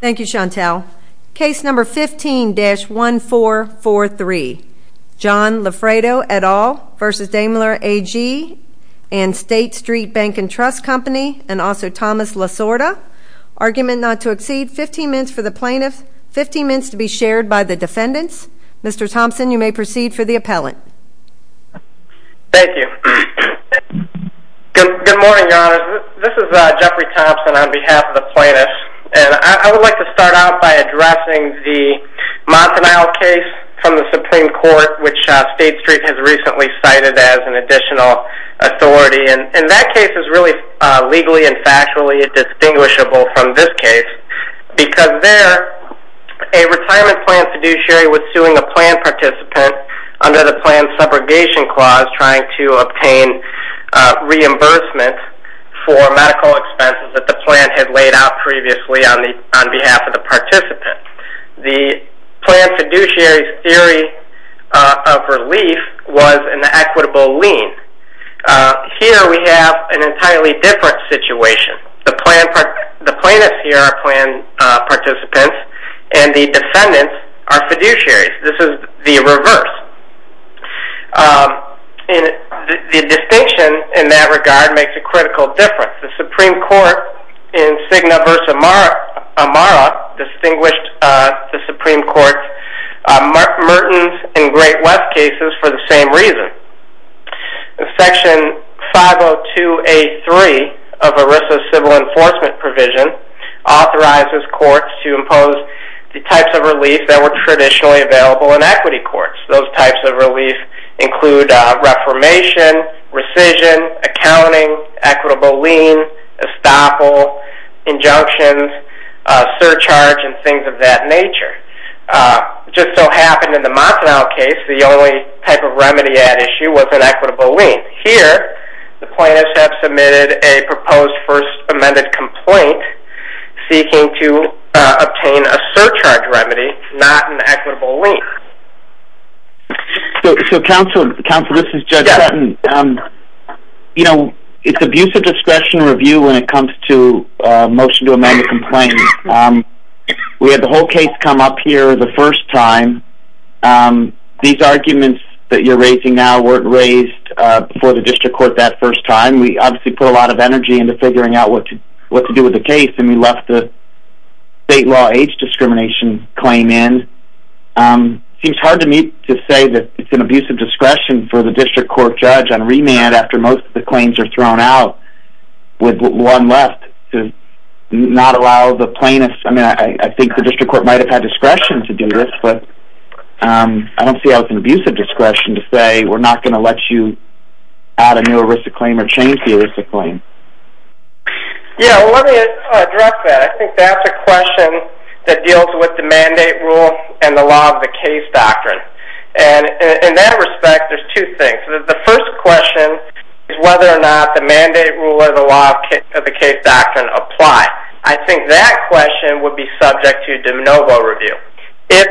Thank you, Chantel. Case number 15-1443, John Loffredo et al. v. Daimler AG and State Street Bank and Trust Company and also Thomas Lasorda. Argument not to exceed 15 minutes for the plaintiff, 15 minutes to be shared by the defendants. Mr. Thompson, you may proceed for the appellant. Thank you. Good morning, Your Honors. This is Jeffrey Thompson on behalf of the plaintiffs. And I would like to start out by addressing the Montanile case from the Supreme Court, which State Street has recently cited as an additional authority. And that case is really legally and factually distinguishable from this case because there, a retirement plan fiduciary was suing a plan participant under the plan's subrogation clause trying to obtain reimbursement for medical expenses that the plan had laid out previously on behalf of the participant. The plan fiduciary's theory of relief was an equitable lien. Here we have an entirely different situation. The plaintiffs here are plan participants and the defendants are fiduciaries. This is the reverse. The distinction in that regard makes a critical difference. The Supreme Court in Cigna v. Amara distinguished the Supreme Court's Mertens and Great West cases for the same reason. Section 502A3 of ERISA's civil enforcement provision authorizes courts to impose the types of relief that were traditionally available in equity courts. Those types of relief include reformation, rescission, accounting, equitable lien, estoppel, injunctions, surcharge, and things of that nature. It just so happened in the Montanal case, the only type of remedy at issue was an equitable lien. Here, the plaintiffs have submitted a proposed first amended complaint seeking to obtain a surcharge remedy, not an equitable lien. Counsel, this is Judge Sutton. It's abuse of discretion to review when it comes to a motion to amend a complaint. We had the whole case come up here the first time. These arguments that you're raising now weren't raised before the district court that first time. We obviously put a lot of energy into figuring out what to do with the case and we left the state law age discrimination claim in. It seems hard to me to say that it's an abuse of discretion for the district court judge on remand after most of the claims are thrown out with one left to not allow the plaintiffs. I think the district court might have had discretion to do this, but I don't see how it's an abuse of discretion to say we're not going to let you add a new arista claim or change the arista claim. Let me address that. I think that's a question that deals with the mandate rule and the law of the case doctrine. In that respect, there's two things. The first question is whether or not the mandate rule or the law of the case doctrine apply. I think that question would be subject to de novo review if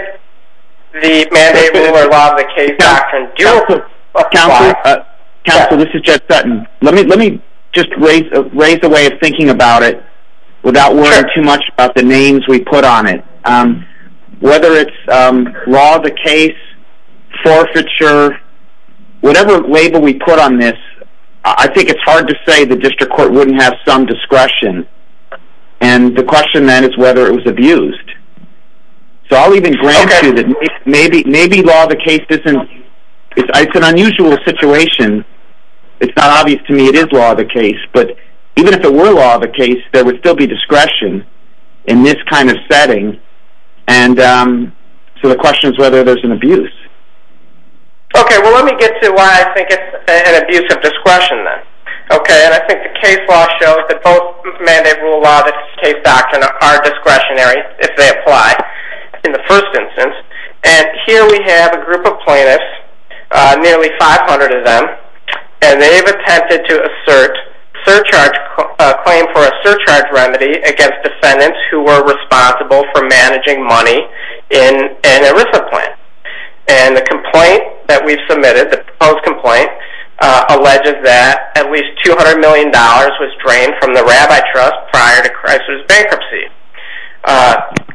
the mandate rule or law of the case doctrine do apply. Counsel, this is Jed Sutton. Let me just raise a way of thinking about it without worrying too much about the names we put on it. Whether it's law of the case, forfeiture, whatever label we put on this, I think it's hard to say the district court wouldn't have some discretion. The question then is whether it was abused. I'll even grant you that maybe law of the case is an unusual situation. It's not obvious to me it is law of the case, but even if it were law of the case, there would still be discretion in this kind of setting. The question is whether there's an abuse. Let me get to why I think it's an abuse of discretion then. I think the case law shows that both mandate rule and law of the case doctrine are discretionary if they apply in the first instance. Here we have a group of plaintiffs, nearly 500 of them, and they've attempted to assert a claim for a surcharge remedy against defendants who were responsible for managing money in an ERISA plant. The complaint that we've submitted, the proposed complaint, alleges that at least $200 million was drained from the Rabbi Trust prior to Chrysler's bankruptcy.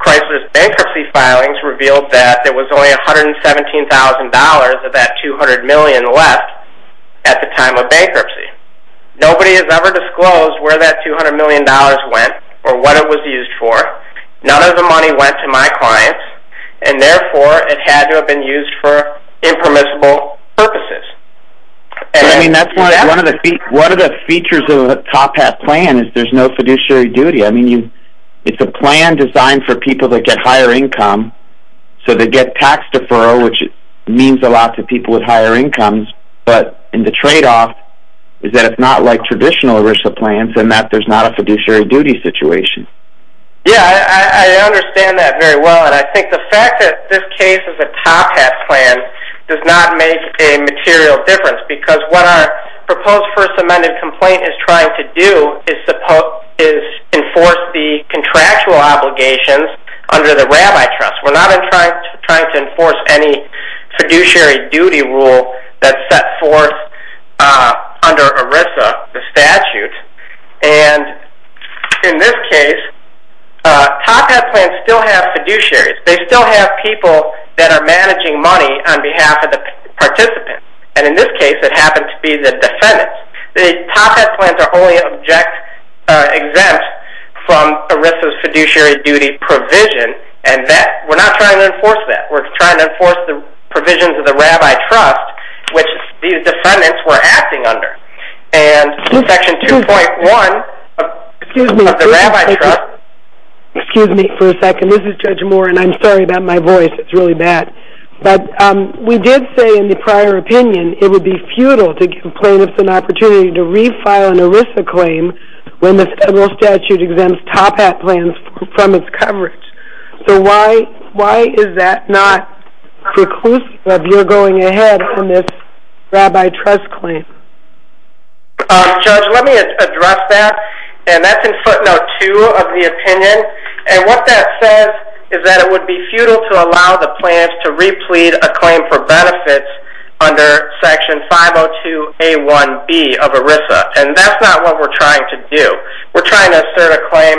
Chrysler's bankruptcy filings revealed that there was only $117,000 of that $200 million left at the time of bankruptcy. Nobody has ever disclosed where that $200 million went or what it was used for. None of the money went to my clients, and therefore it had to have been used for impermissible purposes. One of the features of a top hat plan is there's no fiduciary duty. It's a plan designed for people that get higher income, so they get tax deferral, which means a lot to people with higher incomes. But the tradeoff is that it's not like traditional ERISA plans in that there's not a fiduciary duty situation. Yeah, I understand that very well, and I think the fact that this case is a top hat plan does not make a material difference because what our proposed first amended complaint is trying to do is enforce the contractual obligations under the Rabbi Trust. We're not trying to enforce any fiduciary duty rule that's set forth under ERISA, the statute. In this case, top hat plans still have fiduciaries. They still have people that are managing money on behalf of the participants, and in this case it happened to be the defendants. The top hat plans are only exempt from ERISA's fiduciary duty provision, and we're not trying to enforce that. We're trying to enforce the provisions of the Rabbi Trust, which these defendants were acting under. Excuse me for a second. This is Judge Moore, and I'm sorry about my voice. It's really bad. But we did say in the prior opinion it would be futile to give plaintiffs an opportunity to refile an ERISA claim when the federal statute exempts top hat plans from its coverage. So why is that not preclusive of your going ahead with this Rabbi Trust claim? Judge, let me address that, and that's in footnote 2 of the opinion, and what that says is that it would be futile to allow the plaintiffs to replete a claim for benefits under section 502A1B of ERISA, and that's not what we're trying to do. We're trying to assert a claim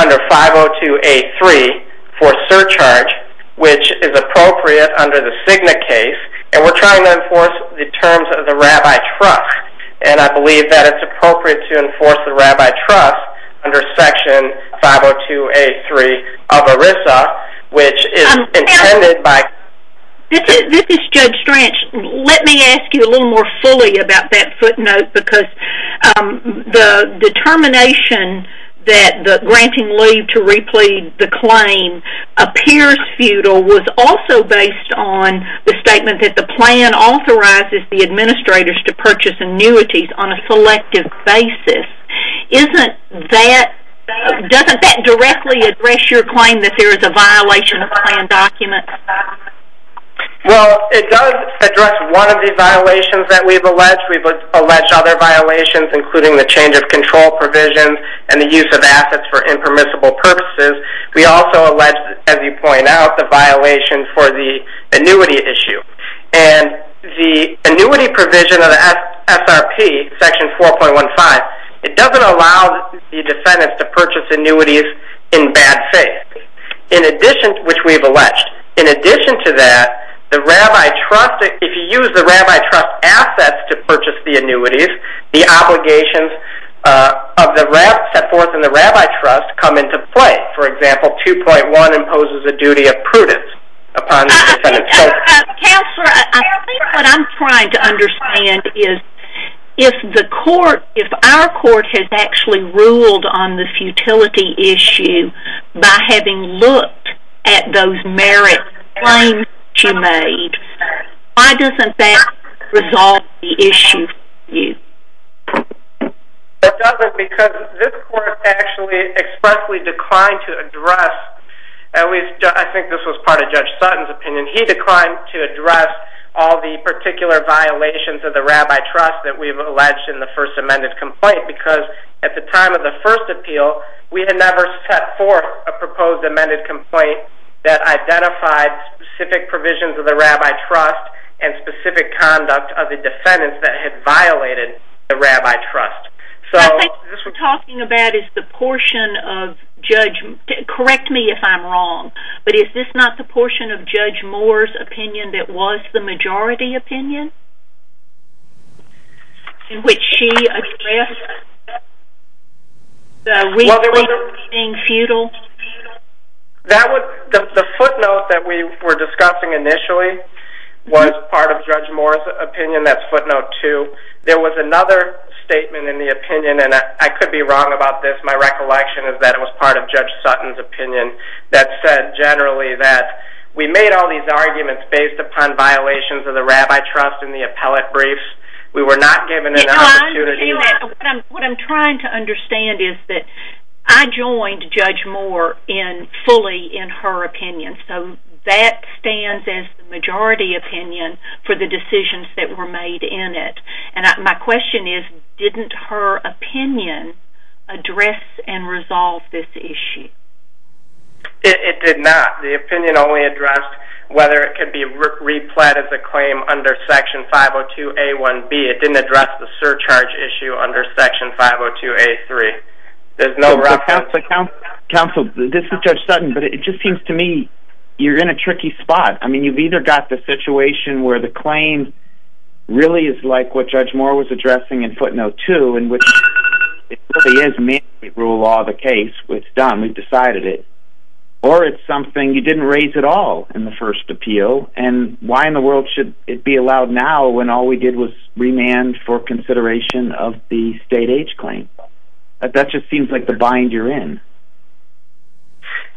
under 502A3 for surcharge, which is appropriate under the Cigna case, and we're trying to enforce the terms of the Rabbi Trust, and I believe that it's appropriate to enforce the Rabbi Trust under section 502A3 of ERISA, which is intended by... This is Judge Stranch. Let me ask you a little more fully about that footnote, because the determination that granting leave to replete the claim appears futile was also based on the statement that the plan authorizes the administrators to purchase annuities on a selective basis. Doesn't that directly address your claim that there is a violation of the plan document? Well, it does address one of the violations that we've alleged. We've alleged other violations, including the change of control provisions and the use of assets for impermissible purposes. We also alleged, as you point out, the violation for the annuity issue, and the annuity provision of the SRP, section 4.15, it doesn't allow the descendants to purchase annuities in bad faith, which we've alleged. In addition to that, if you use the Rabbi Trust assets to purchase the annuities, the obligations set forth in the Rabbi Trust come into play. For example, 2.1 imposes the duty of prudence upon the descendants. Counselor, I think what I'm trying to understand is if our court has actually ruled on the futility issue by having looked at those merit claims that you made, why doesn't that resolve the issue for you? It doesn't because this court actually expressly declined to address, I think this was part of Judge Sutton's opinion, he declined to address all the particular violations of the Rabbi Trust that we've alleged in the first amended complaint because at the time of the first appeal, we had never set forth a proposed amended complaint that identified specific provisions of the Rabbi Trust and specific conduct of the descendants that had violated the Rabbi Trust. I think what we're talking about is the portion of Judge, correct me if I'm wrong, but is this not the portion of Judge Moore's opinion that was the majority opinion? The footnote that we were discussing initially was part of Judge Moore's opinion, that's footnote two. There was another statement in the opinion, and I could be wrong about this, my recollection is that it was part of Judge Sutton's opinion that said generally that we made all these arguments based upon violations of the Rabbi Trust in the appellate briefs, we were not given an opportunity... What I'm trying to understand is that I joined Judge Moore fully in her opinion, so that stands as the majority opinion for the decisions that were made in it. And my question is, didn't her opinion address and resolve this issue? It did not. The opinion only addressed whether it could be replet as a claim under Section 502A1B. It didn't address the surcharge issue under Section 502A3. Counsel, this is Judge Sutton, but it just seems to me you're in a tricky spot. I mean, you've either got the situation where the claim really is like what Judge Moore was addressing in footnote two, in which it really is mandatory to rule all the case, it's done, we've decided it, or it's something you didn't raise at all in the first appeal, and why in the world should it be allowed now when all we did was remand for consideration of the state age claim? That just seems like the bind you're in.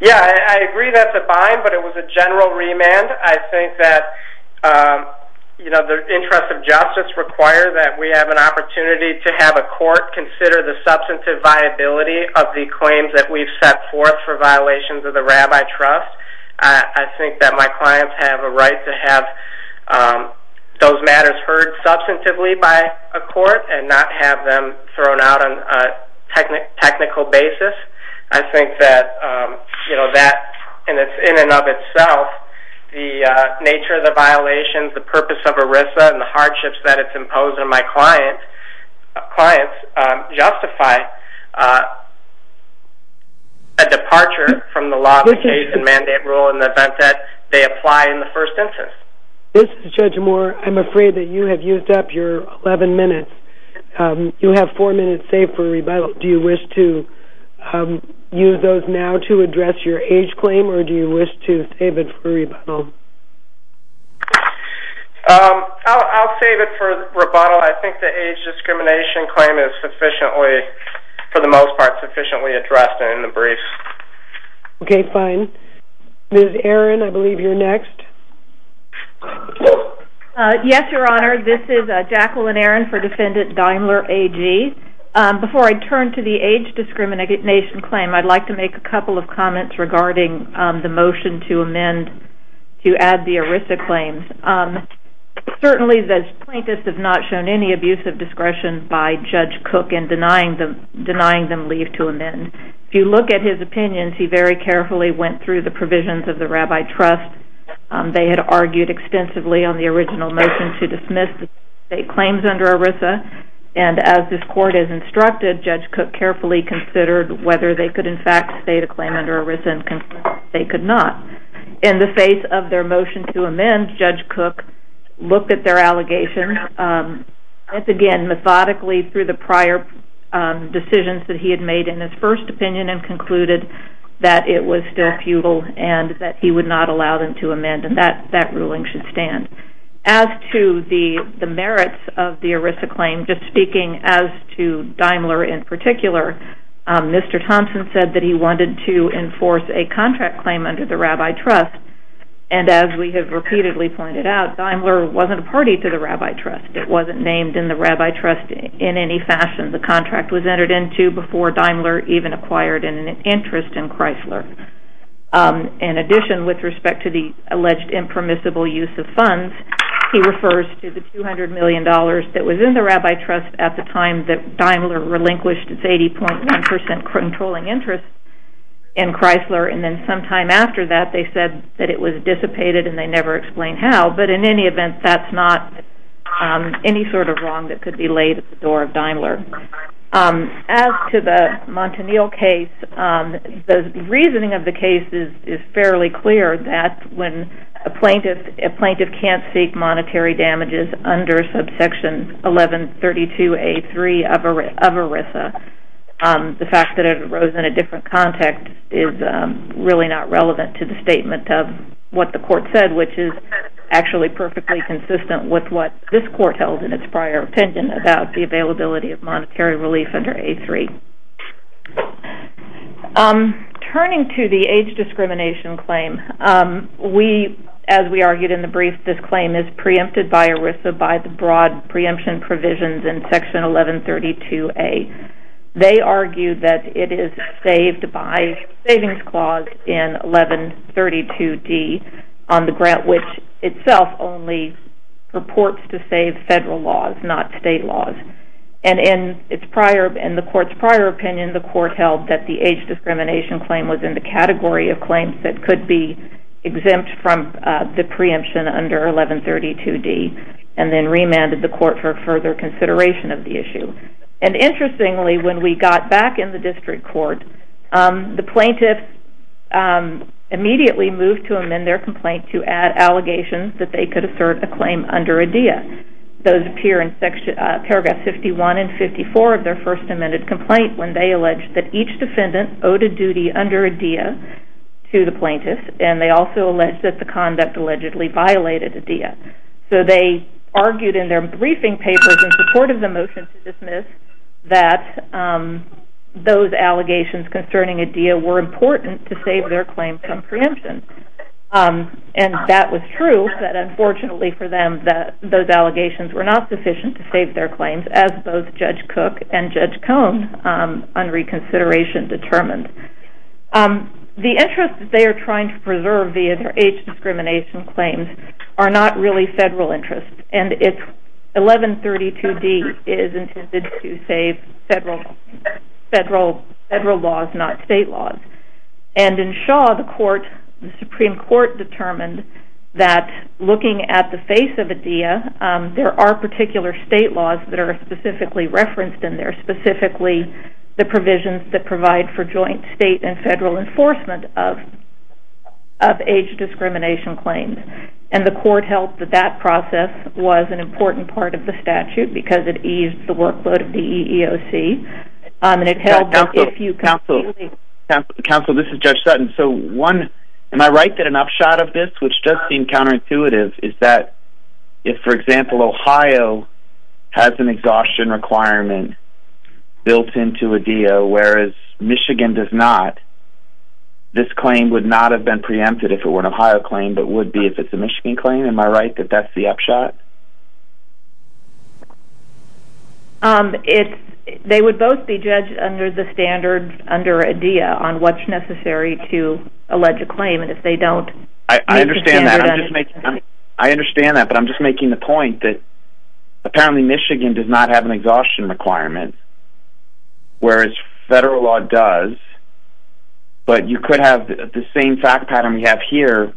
Yeah, I agree that's a bind, but it was a general remand. I think that the interests of justice require that we have an opportunity to have a court consider the substantive viability of the claims that we've set forth for violations of the Rabbi Trust. I think that my clients have a right to have those matters heard substantively by a court, and not have them thrown out on a technical basis. I think that, in and of itself, the nature of the violations, the purpose of ERISA, and the hardships that it's imposed on my clients justify a departure from the law of the case and mandate rule in the event that they apply in the first instance. This is Judge Moore. I'm afraid that you have used up your 11 minutes. You have 4 minutes saved for rebuttal. Do you wish to use those now to address your age claim, or do you wish to save it for rebuttal? I'll save it for rebuttal. I think the age discrimination claim is sufficiently, for the most part, sufficiently addressed in the brief. Okay, fine. Ms. Aaron, I believe you're next. Yes, Your Honor. This is Jacqueline Aaron for Defendant Daimler, AG. Before I turn to the age discrimination claim, I'd like to make a couple of comments regarding the motion to amend, to add the ERISA claims. Certainly, the plaintiffs have not shown any abuse of discretion by Judge Cook in denying them leave to amend. If you look at his opinions, he very carefully went through the provisions of the Rabbi Trust. They had argued extensively on the original motion to dismiss the state claims under ERISA, and as this Court has instructed, Judge Cook carefully considered whether they could, in fact, state a claim under ERISA, and they could not. In the face of their motion to amend, Judge Cook looked at their allegations, again, methodically through the prior decisions that he had made in his first opinion, and concluded that it was still futile and that he would not allow them to amend, and that ruling should stand. As to the merits of the ERISA claim, just speaking as to Daimler in particular, Mr. Thompson said that he wanted to enforce a contract claim under the Rabbi Trust, and as we have repeatedly pointed out, Daimler wasn't a party to the Rabbi Trust. It wasn't named in the Rabbi Trust in any fashion. The contract was entered into before Daimler even acquired an interest in Chrysler. In addition, with respect to the alleged impermissible use of funds, he refers to the $200 million that was in the Rabbi Trust at the time that Daimler relinquished its 80.1% controlling interest in Chrysler, and then sometime after that, they said that it was dissipated and they never explained how, but in any event, that's not any sort of wrong that could be laid at the door of Daimler. As to the Montanil case, the reasoning of the case is fairly clear, that when a plaintiff can't seek monetary damages under subsection 1132A3 of ERISA, the fact that it arose in a different context is really not relevant to the statement of what the court said, which is actually perfectly consistent with what this court held in its prior opinion about the availability of monetary relief under A3. Turning to the age discrimination claim, as we argued in the brief, this claim is preempted by ERISA by the broad preemption provisions in section 1132A. They argue that it is saved by savings clause in 1132D on the grant, which itself only purports to save federal laws, not state laws. In the court's prior opinion, the court held that the age discrimination claim was in the category of claims that could be exempt from the preemption under 1132D, and then remanded the court for further consideration of the issue. Interestingly, when we got back in the district court, the plaintiffs immediately moved to amend their complaint to add allegations that they could assert a claim under ADEA. Those appear in paragraphs 51 and 54 of their first amended complaint, when they alleged that each defendant owed a duty under ADEA to the plaintiffs, and they also alleged that the conduct allegedly violated ADEA. So they argued in their briefing papers in support of the motion to dismiss that those allegations concerning ADEA were important to save their claim from preemption. And that was true, but unfortunately for them, those allegations were not sufficient to save their claims, as both Judge Cook and Judge Cohn, under reconsideration, determined. The interest that they are trying to preserve via their age discrimination claims are not really federal interests, and 1132D is intended to save federal laws, not state laws. And in Shaw, the Supreme Court determined that looking at the face of ADEA, there are particular state laws that are specifically referenced in there, specifically the provisions that provide for joint state and federal enforcement of age discrimination claims. And the court held that that process was an important part of the statute, because it eased the workload of the EEOC. Counsel, this is Judge Sutton. So am I right that an upshot of this, which does seem counterintuitive, is that if, for example, Ohio has an exhaustion requirement built into ADEA, whereas Michigan does not, this claim would not have been preempted if it were an Ohio claim, but would be if it's a Michigan claim? Am I right that that's the upshot? They would both be judged under the standards under ADEA on what's necessary to allege a claim, and if they don't... I understand that, but I'm just making the point that, apparently Michigan does not have an exhaustion requirement, whereas federal law does. But you could have the same fact pattern we have here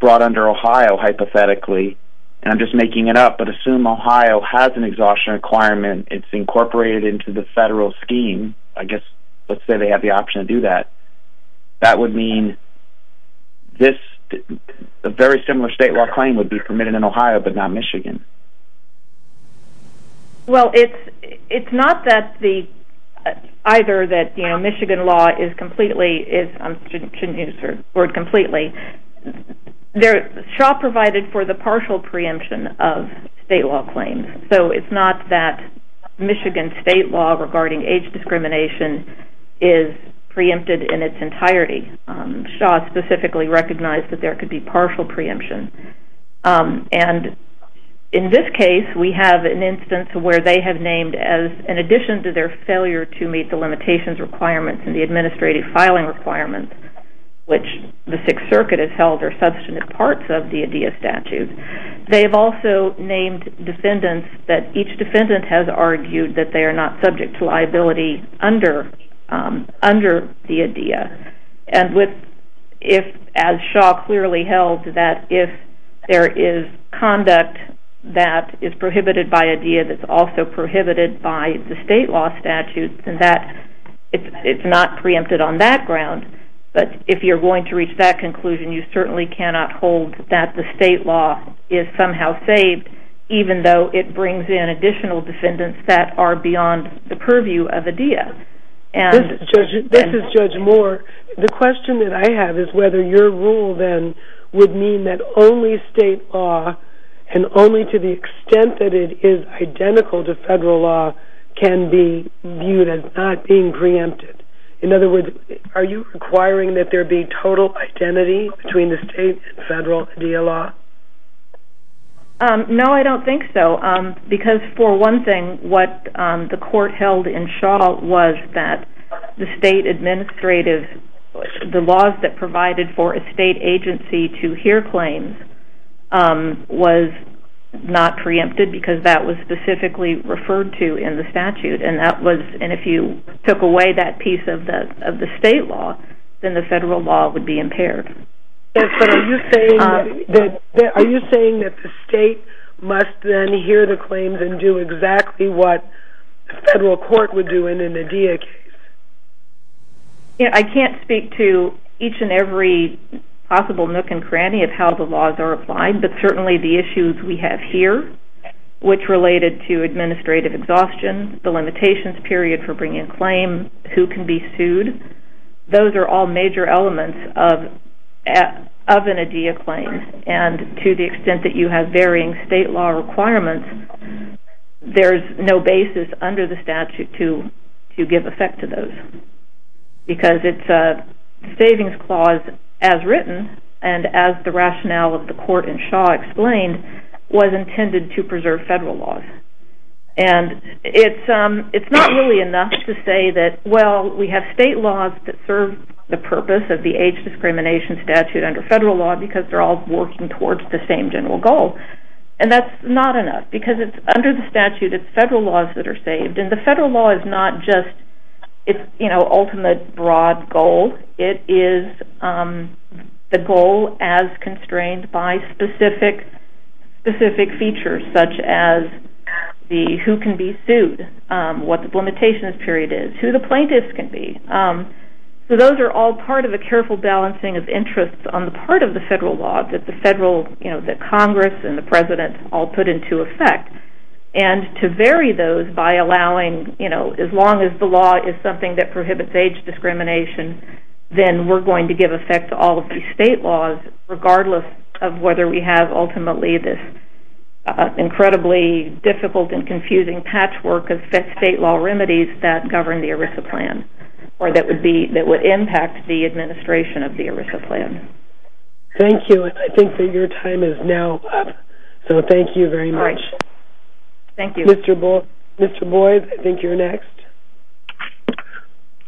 brought under Ohio, hypothetically, and I'm just making it up, but assume Ohio has an exhaustion requirement. It's incorporated into the federal scheme. I guess let's say they have the option to do that. That would mean a very similar state law claim would be permitted in Ohio, but not Michigan. Well, it's not that either that Michigan law is completely... I shouldn't use the word completely. Shaw provided for the partial preemption of state law claims, so it's not that Michigan state law regarding age discrimination is preempted in its entirety. Shaw specifically recognized that there could be partial preemption, and in this case, we have an instance where they have named as, in addition to their failure to meet the limitations requirements and the administrative filing requirements, which the Sixth Circuit has held are substantive parts of the ADEA statute, they have also named defendants that each defendant has argued that they are not subject to liability under the ADEA. And as Shaw clearly held, that if there is conduct that is prohibited by ADEA that's also prohibited by the state law statute, then it's not preempted on that ground. But if you're going to reach that conclusion, you certainly cannot hold that the state law is somehow saved, even though it brings in additional defendants that are beyond the purview of ADEA. This is Judge Moore. The question that I have is whether your rule then would mean that only state law, and only to the extent that it is identical to federal law, can be viewed as not being preempted. In other words, are you requiring that there be total identity between the state and federal ADEA law? No, I don't think so. Because for one thing, what the court held in Shaw was that the state administrative, the laws that provided for a state agency to hear claims, was not preempted because that was specifically referred to in the statute. And if you took away that piece of the state law, then the federal law would be impaired. Are you saying that the state must then hear the claims and do exactly what the federal court would do in an ADEA case? I can't speak to each and every possible nook and cranny of how the laws are applied, but certainly the issues we have here, which related to administrative exhaustion, the limitations period for bringing a claim, who can be sued, those are all major elements of an ADEA claim. And to the extent that you have varying state law requirements, there's no basis under the statute to give effect to those. Because it's a savings clause as written, and as the rationale of the court in Shaw explained, was intended to preserve federal laws. And it's not really enough to say that, well, we have state laws that serve the purpose of the age discrimination statute under federal law because they're all working towards the same general goal. And that's not enough because it's under the statute, it's federal laws that are saved. And the federal law is not just its ultimate broad goal. It is the goal as constrained by specific features such as who can be sued, what the limitations period is, who the plaintiffs can be. So those are all part of a careful balancing of interests on the part of the federal law that Congress and the President all put into effect. And to vary those by allowing, as long as the law is something that prohibits age discrimination, then we're going to give effect to all of these state laws, regardless of whether we have ultimately this incredibly difficult and confusing patchwork of state law remedies that govern the ERISA plan or that would impact the administration of the ERISA plan. Thank you. I think that your time is now up. So thank you very much. Thank you. Mr. Boyd, I think you're next.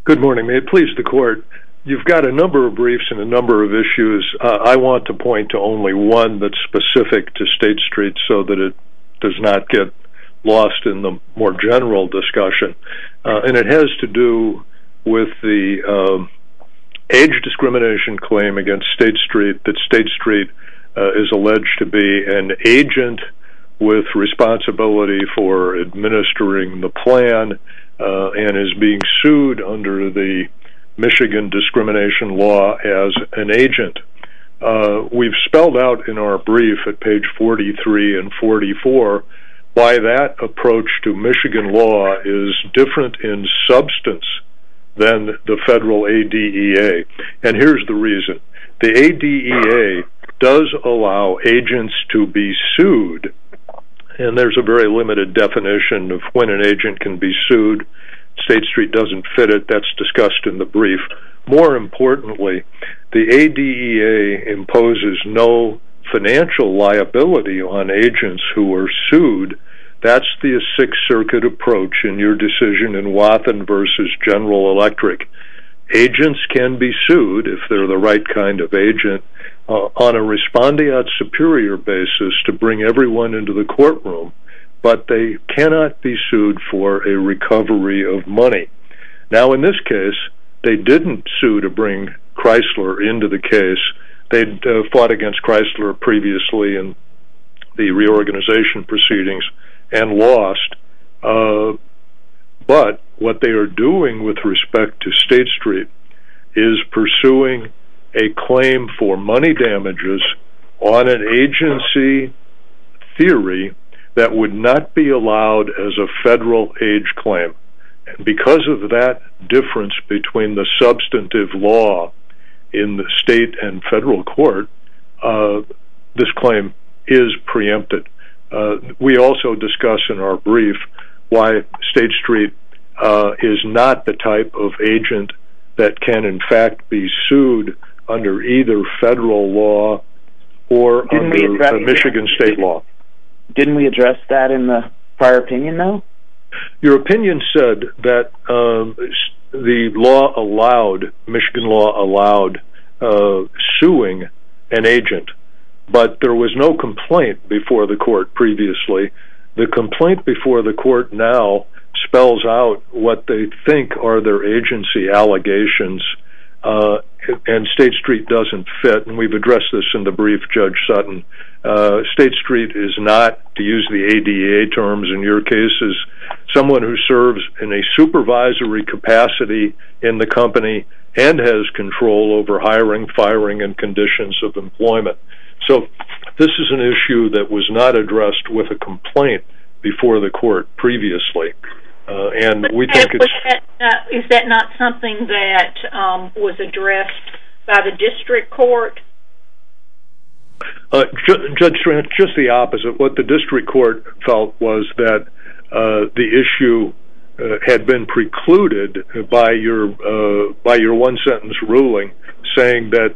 Good morning. May it please the Court. You've got a number of briefs and a number of issues. I want to point to only one that's specific to State Street so that it does not get lost in the more general discussion, and it has to do with the age discrimination claim against State Street that State Street is alleged to be an agent with responsibility for administering the plan and is being sued under the Michigan discrimination law as an agent. We've spelled out in our brief at page 43 and 44 why that approach to Michigan law is different in substance than the federal ADEA, and here's the reason. The ADEA does allow agents to be sued, and there's a very limited definition of when an agent can be sued. State Street doesn't fit it. That's discussed in the brief. More importantly, the ADEA imposes no financial liability on agents who are sued. That's the Sixth Circuit approach in your decision in Wathen v. General Electric. Agents can be sued, if they're the right kind of agent, on a respondeat superior basis to bring everyone into the courtroom, but they cannot be sued for a recovery of money. Now, in this case, they didn't sue to bring Chrysler into the case. They'd fought against Chrysler previously in the reorganization proceedings and lost, but what they are doing with respect to State Street is pursuing a claim for money damages on an agency theory that would not be allowed as a federal age claim. Because of that difference between the substantive law in the state and federal court, this claim is preempted. We also discuss in our brief why State Street is not the type of agent that can, in fact, be sued under either federal law or under Michigan state law. Didn't we address that in the prior opinion, though? Your opinion said that Michigan law allowed suing an agent, but there was no complaint before the court previously. The complaint before the court now spells out what they think are their agency allegations, and State Street doesn't fit, and we've addressed this in the brief, Judge Sutton. State Street is not, to use the ADA terms in your cases, someone who serves in a supervisory capacity in the company and has control over hiring, firing, and conditions of employment. So this is an issue that was not addressed with a complaint before the court previously. Is that not something that was addressed by the district court? Judge Trent, just the opposite. What the district court felt was that the issue had been precluded by your one-sentence ruling saying that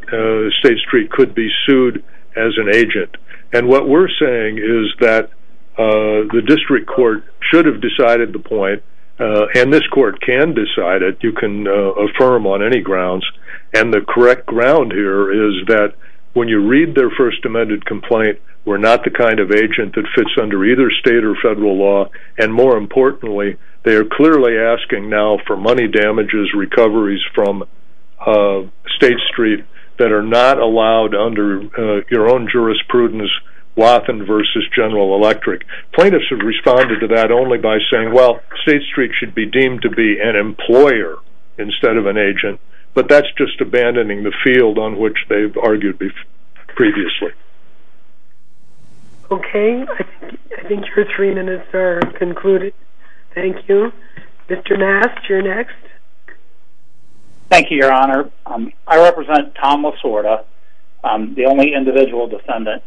State Street could be sued as an agent. And what we're saying is that the district court should have decided the point, and this court can decide it. You can affirm on any grounds. And the correct ground here is that when you read their first amended complaint, we're not the kind of agent that fits under either state or federal law, and more importantly, they are clearly asking now for money damages, recoveries from State Street that are not allowed under your own jurisprudence, Wathen v. General Electric. Plaintiffs have responded to that only by saying, well, State Street should be deemed to be an employer instead of an agent, but that's just abandoning the field on which they've argued previously. Okay. I think your three minutes are concluded. Thank you. Mr. Mast, you're next. Thank you, Your Honor. I represent Tom Lasorda, the only individual defendant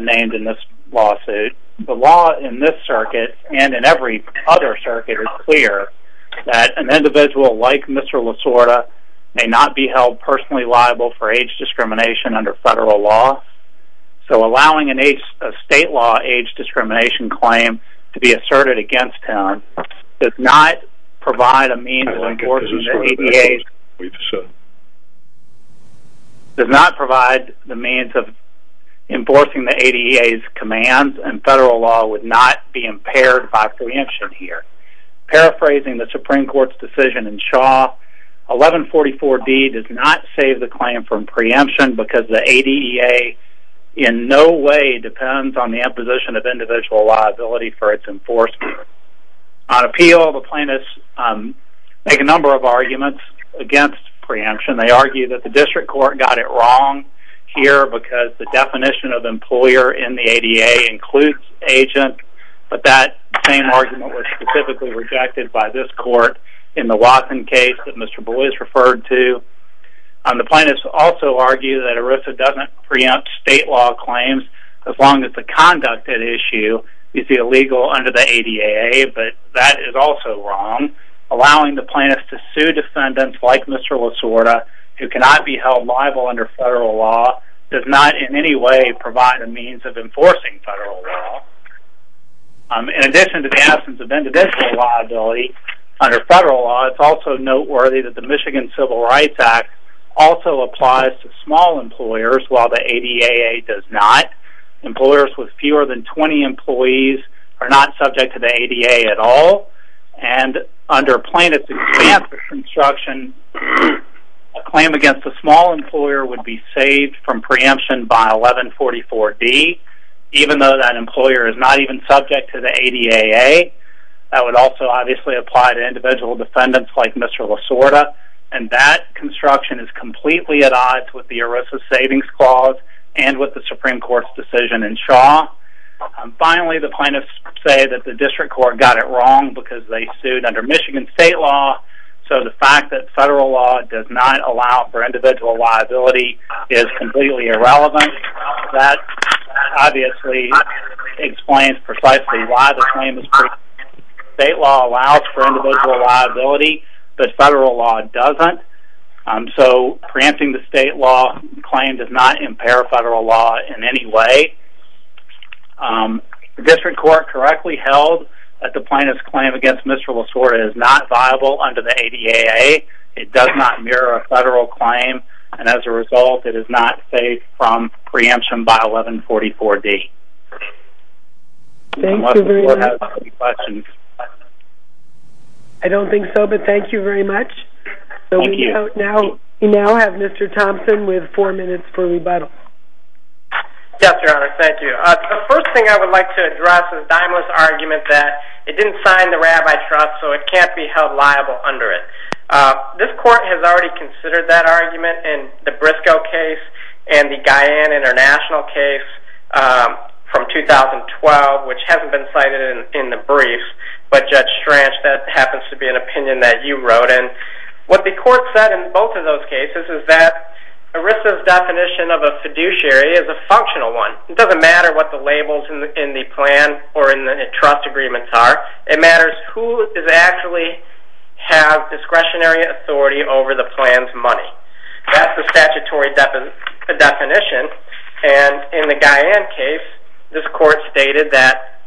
named in this lawsuit. The law in this circuit, and in every other circuit, is clear that an individual like Mr. Lasorda may not be held personally liable for age discrimination under federal law. So allowing a state law age discrimination claim to be asserted against him does not provide a means of enforcing the ADA's commands and federal law would not be impaired by preemption here. Paraphrasing the Supreme Court's decision in Shaw, 1144D does not save the claim from preemption because the ADA in no way depends on the imposition of individual liability for its enforcement. On appeal, the plaintiffs make a number of arguments against preemption. They argue that the district court got it wrong here because the definition of employer in the ADA includes agent, but that same argument was specifically rejected by this court in the Watson case that Mr. Boies referred to. The plaintiffs also argue that ERISA doesn't preempt state law claims as long as the conduct at issue is illegal under the ADA, but that is also wrong. Allowing the plaintiffs to sue defendants like Mr. Lasorda, who cannot be held liable under federal law, does not in any way provide a means of enforcing federal law. In addition to the absence of individual liability under federal law, it's also noteworthy that the Michigan Civil Rights Act also applies to small employers while the ADA does not. Employers with fewer than 20 employees are not subject to the ADA at all, and under plaintiffs' example construction, a claim against a small employer would be saved from preemption by 1144D, even though that employer is not even subject to the ADA. That would also obviously apply to individual defendants like Mr. Lasorda, and that construction is completely at odds with the ERISA Savings Clause and with the Supreme Court's decision in Shaw. Finally, the plaintiffs say that the district court got it wrong because they sued under Michigan state law, so the fact that federal law does not allow for individual liability is completely irrelevant. That obviously explains precisely why the claim is preempted. State law allows for individual liability, but federal law doesn't, so preempting the state law claim does not impair federal law in any way. The district court correctly held that the plaintiff's claim against Mr. Lasorda is not viable under the ADA. It does not mirror a federal claim, and as a result it is not saved from preemption by 1144D. Thank you very much. I don't think so, but thank you very much. We now have Mr. Thompson with four minutes for rebuttal. Yes, Your Honor, thank you. The first thing I would like to address is Daimler's argument that it didn't sign the rabbi trust, so it can't be held liable under it. This court has already considered that argument in the Briscoe case and the Guyane International case from 2012, which hasn't been cited in the brief, but Judge Stranch, that happens to be an opinion that you wrote in. What the court said in both of those cases is that ERISA's definition of a fiduciary is a functional one. It doesn't matter what the labels in the plan or in the trust agreements are. It matters who actually has discretionary authority over the plan's money. That's the statutory definition, and in the Guyane case this court stated that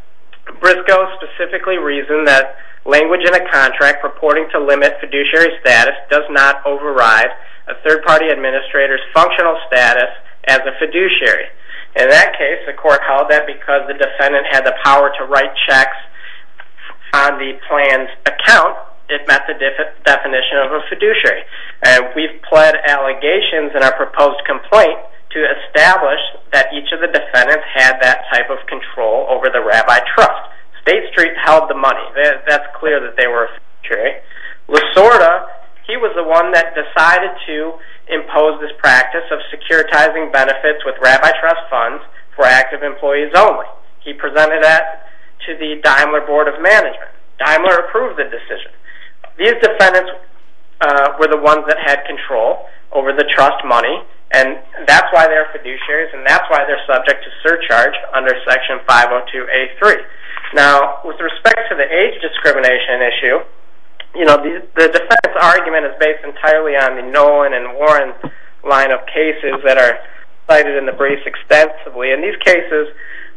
Briscoe specifically reasoned that language in a contract purporting to limit fiduciary status does not override a third-party administrator's functional status as a fiduciary. In that case, the court held that because the defendant had the power to write checks on the plan's account, it met the definition of a fiduciary. We've pled allegations in our proposed complaint to establish that each of the defendants had that type of control over the rabbi trust. State Street held the money. That's clear that they were fiduciary. Lasorda, he was the one that decided to impose this practice of securitizing benefits with rabbi trust funds for active employees only. He presented that to the Daimler Board of Management. Daimler approved the decision. These defendants were the ones that had control over the trust money, and that's why they're fiduciaries, and that's why they're subject to surcharge under Section 502A3. Now, with respect to the age discrimination issue, the defense argument is based entirely on the Nolan and Warren line of cases that are cited in the briefs extensively, and these cases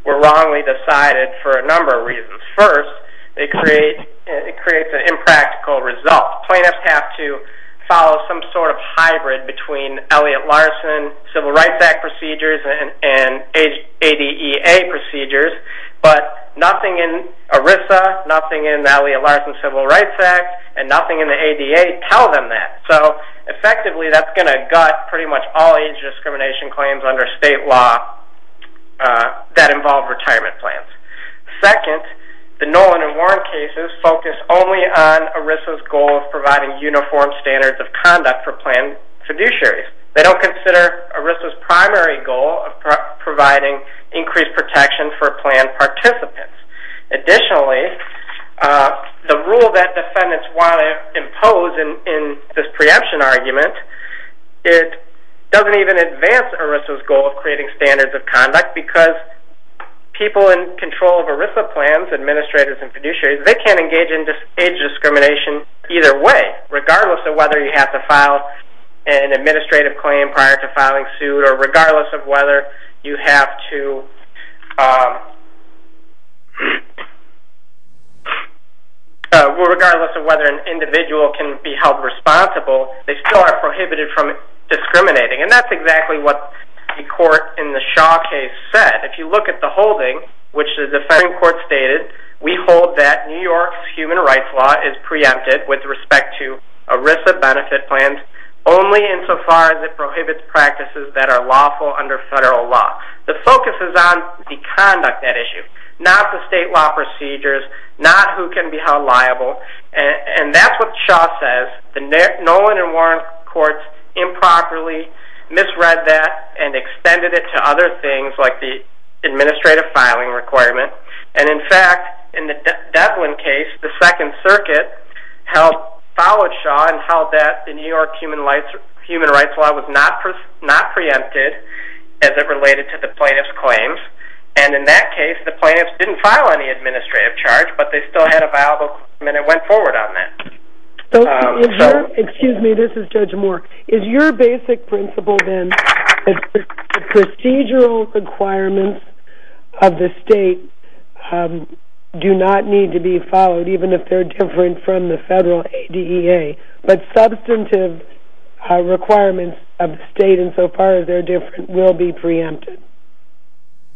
were wrongly decided for a number of reasons. First, it creates an impractical result. Plaintiffs have to follow some sort of hybrid between Elliott-Larsen Civil Rights Act procedures and ADEA procedures, but nothing in ERISA, nothing in Elliott-Larsen Civil Rights Act, and nothing in the ADEA tell them that. So effectively, that's going to gut pretty much all age discrimination claims under state law that involve retirement plans. Second, the Nolan and Warren cases focus only on ERISA's goal of providing uniform standards of conduct for planned fiduciaries. They don't consider ERISA's primary goal of providing increased protection for planned participants. Additionally, the rule that defendants want to impose in this preemption argument, it doesn't even advance ERISA's goal of creating standards of conduct because people in control of ERISA plans, administrators and fiduciaries, they can't engage in age discrimination either way, regardless of whether you have to file an administrative claim prior to filing suit or regardless of whether an individual can be held responsible, they still are prohibited from discriminating. And that's exactly what the court in the Shaw case said. If you look at the holding, which the defending court stated, we hold that New York's human rights law is preempted with respect to ERISA benefit plans only insofar as it prohibits practices that are lawful under federal law. The focus is on the conduct at issue, not the state law procedures, not who can be held liable, and that's what Shaw says. The Nolan and Warren courts improperly misread that and extended it to other things like the administrative filing requirement. And in fact, in the Devlin case, the Second Circuit followed Shaw and held that the New York human rights law was not preempted as it related to the plaintiff's claims. And in that case, the plaintiffs didn't file any administrative charge, but they still had a viable claim and it went forward on that. Excuse me, this is Judge Moore. Is your basic principle then that the procedural requirements of the state do not need to be followed even if they're different from the federal ADEA, but substantive requirements of the state insofar as they're different will be preempted?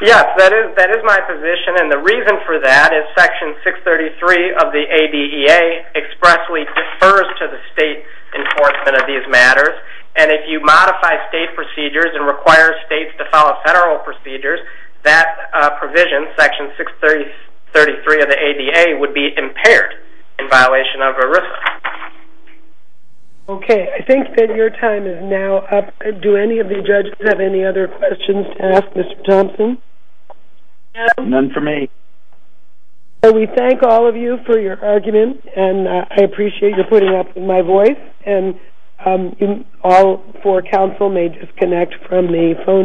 Yes, that is my position, and the reason for that is Section 633 of the ADEA expressly defers to the state enforcement of these matters. And if you modify state procedures and require states to follow federal procedures, that provision, Section 633 of the ADEA, would be impaired in violation of ERISA. Okay, I think that your time is now up. Do any of the judges have any other questions to ask Mr. Thompson? None for me. We thank all of you for your argument, and I appreciate your putting up with my voice. And all four counsel may disconnect from the phone.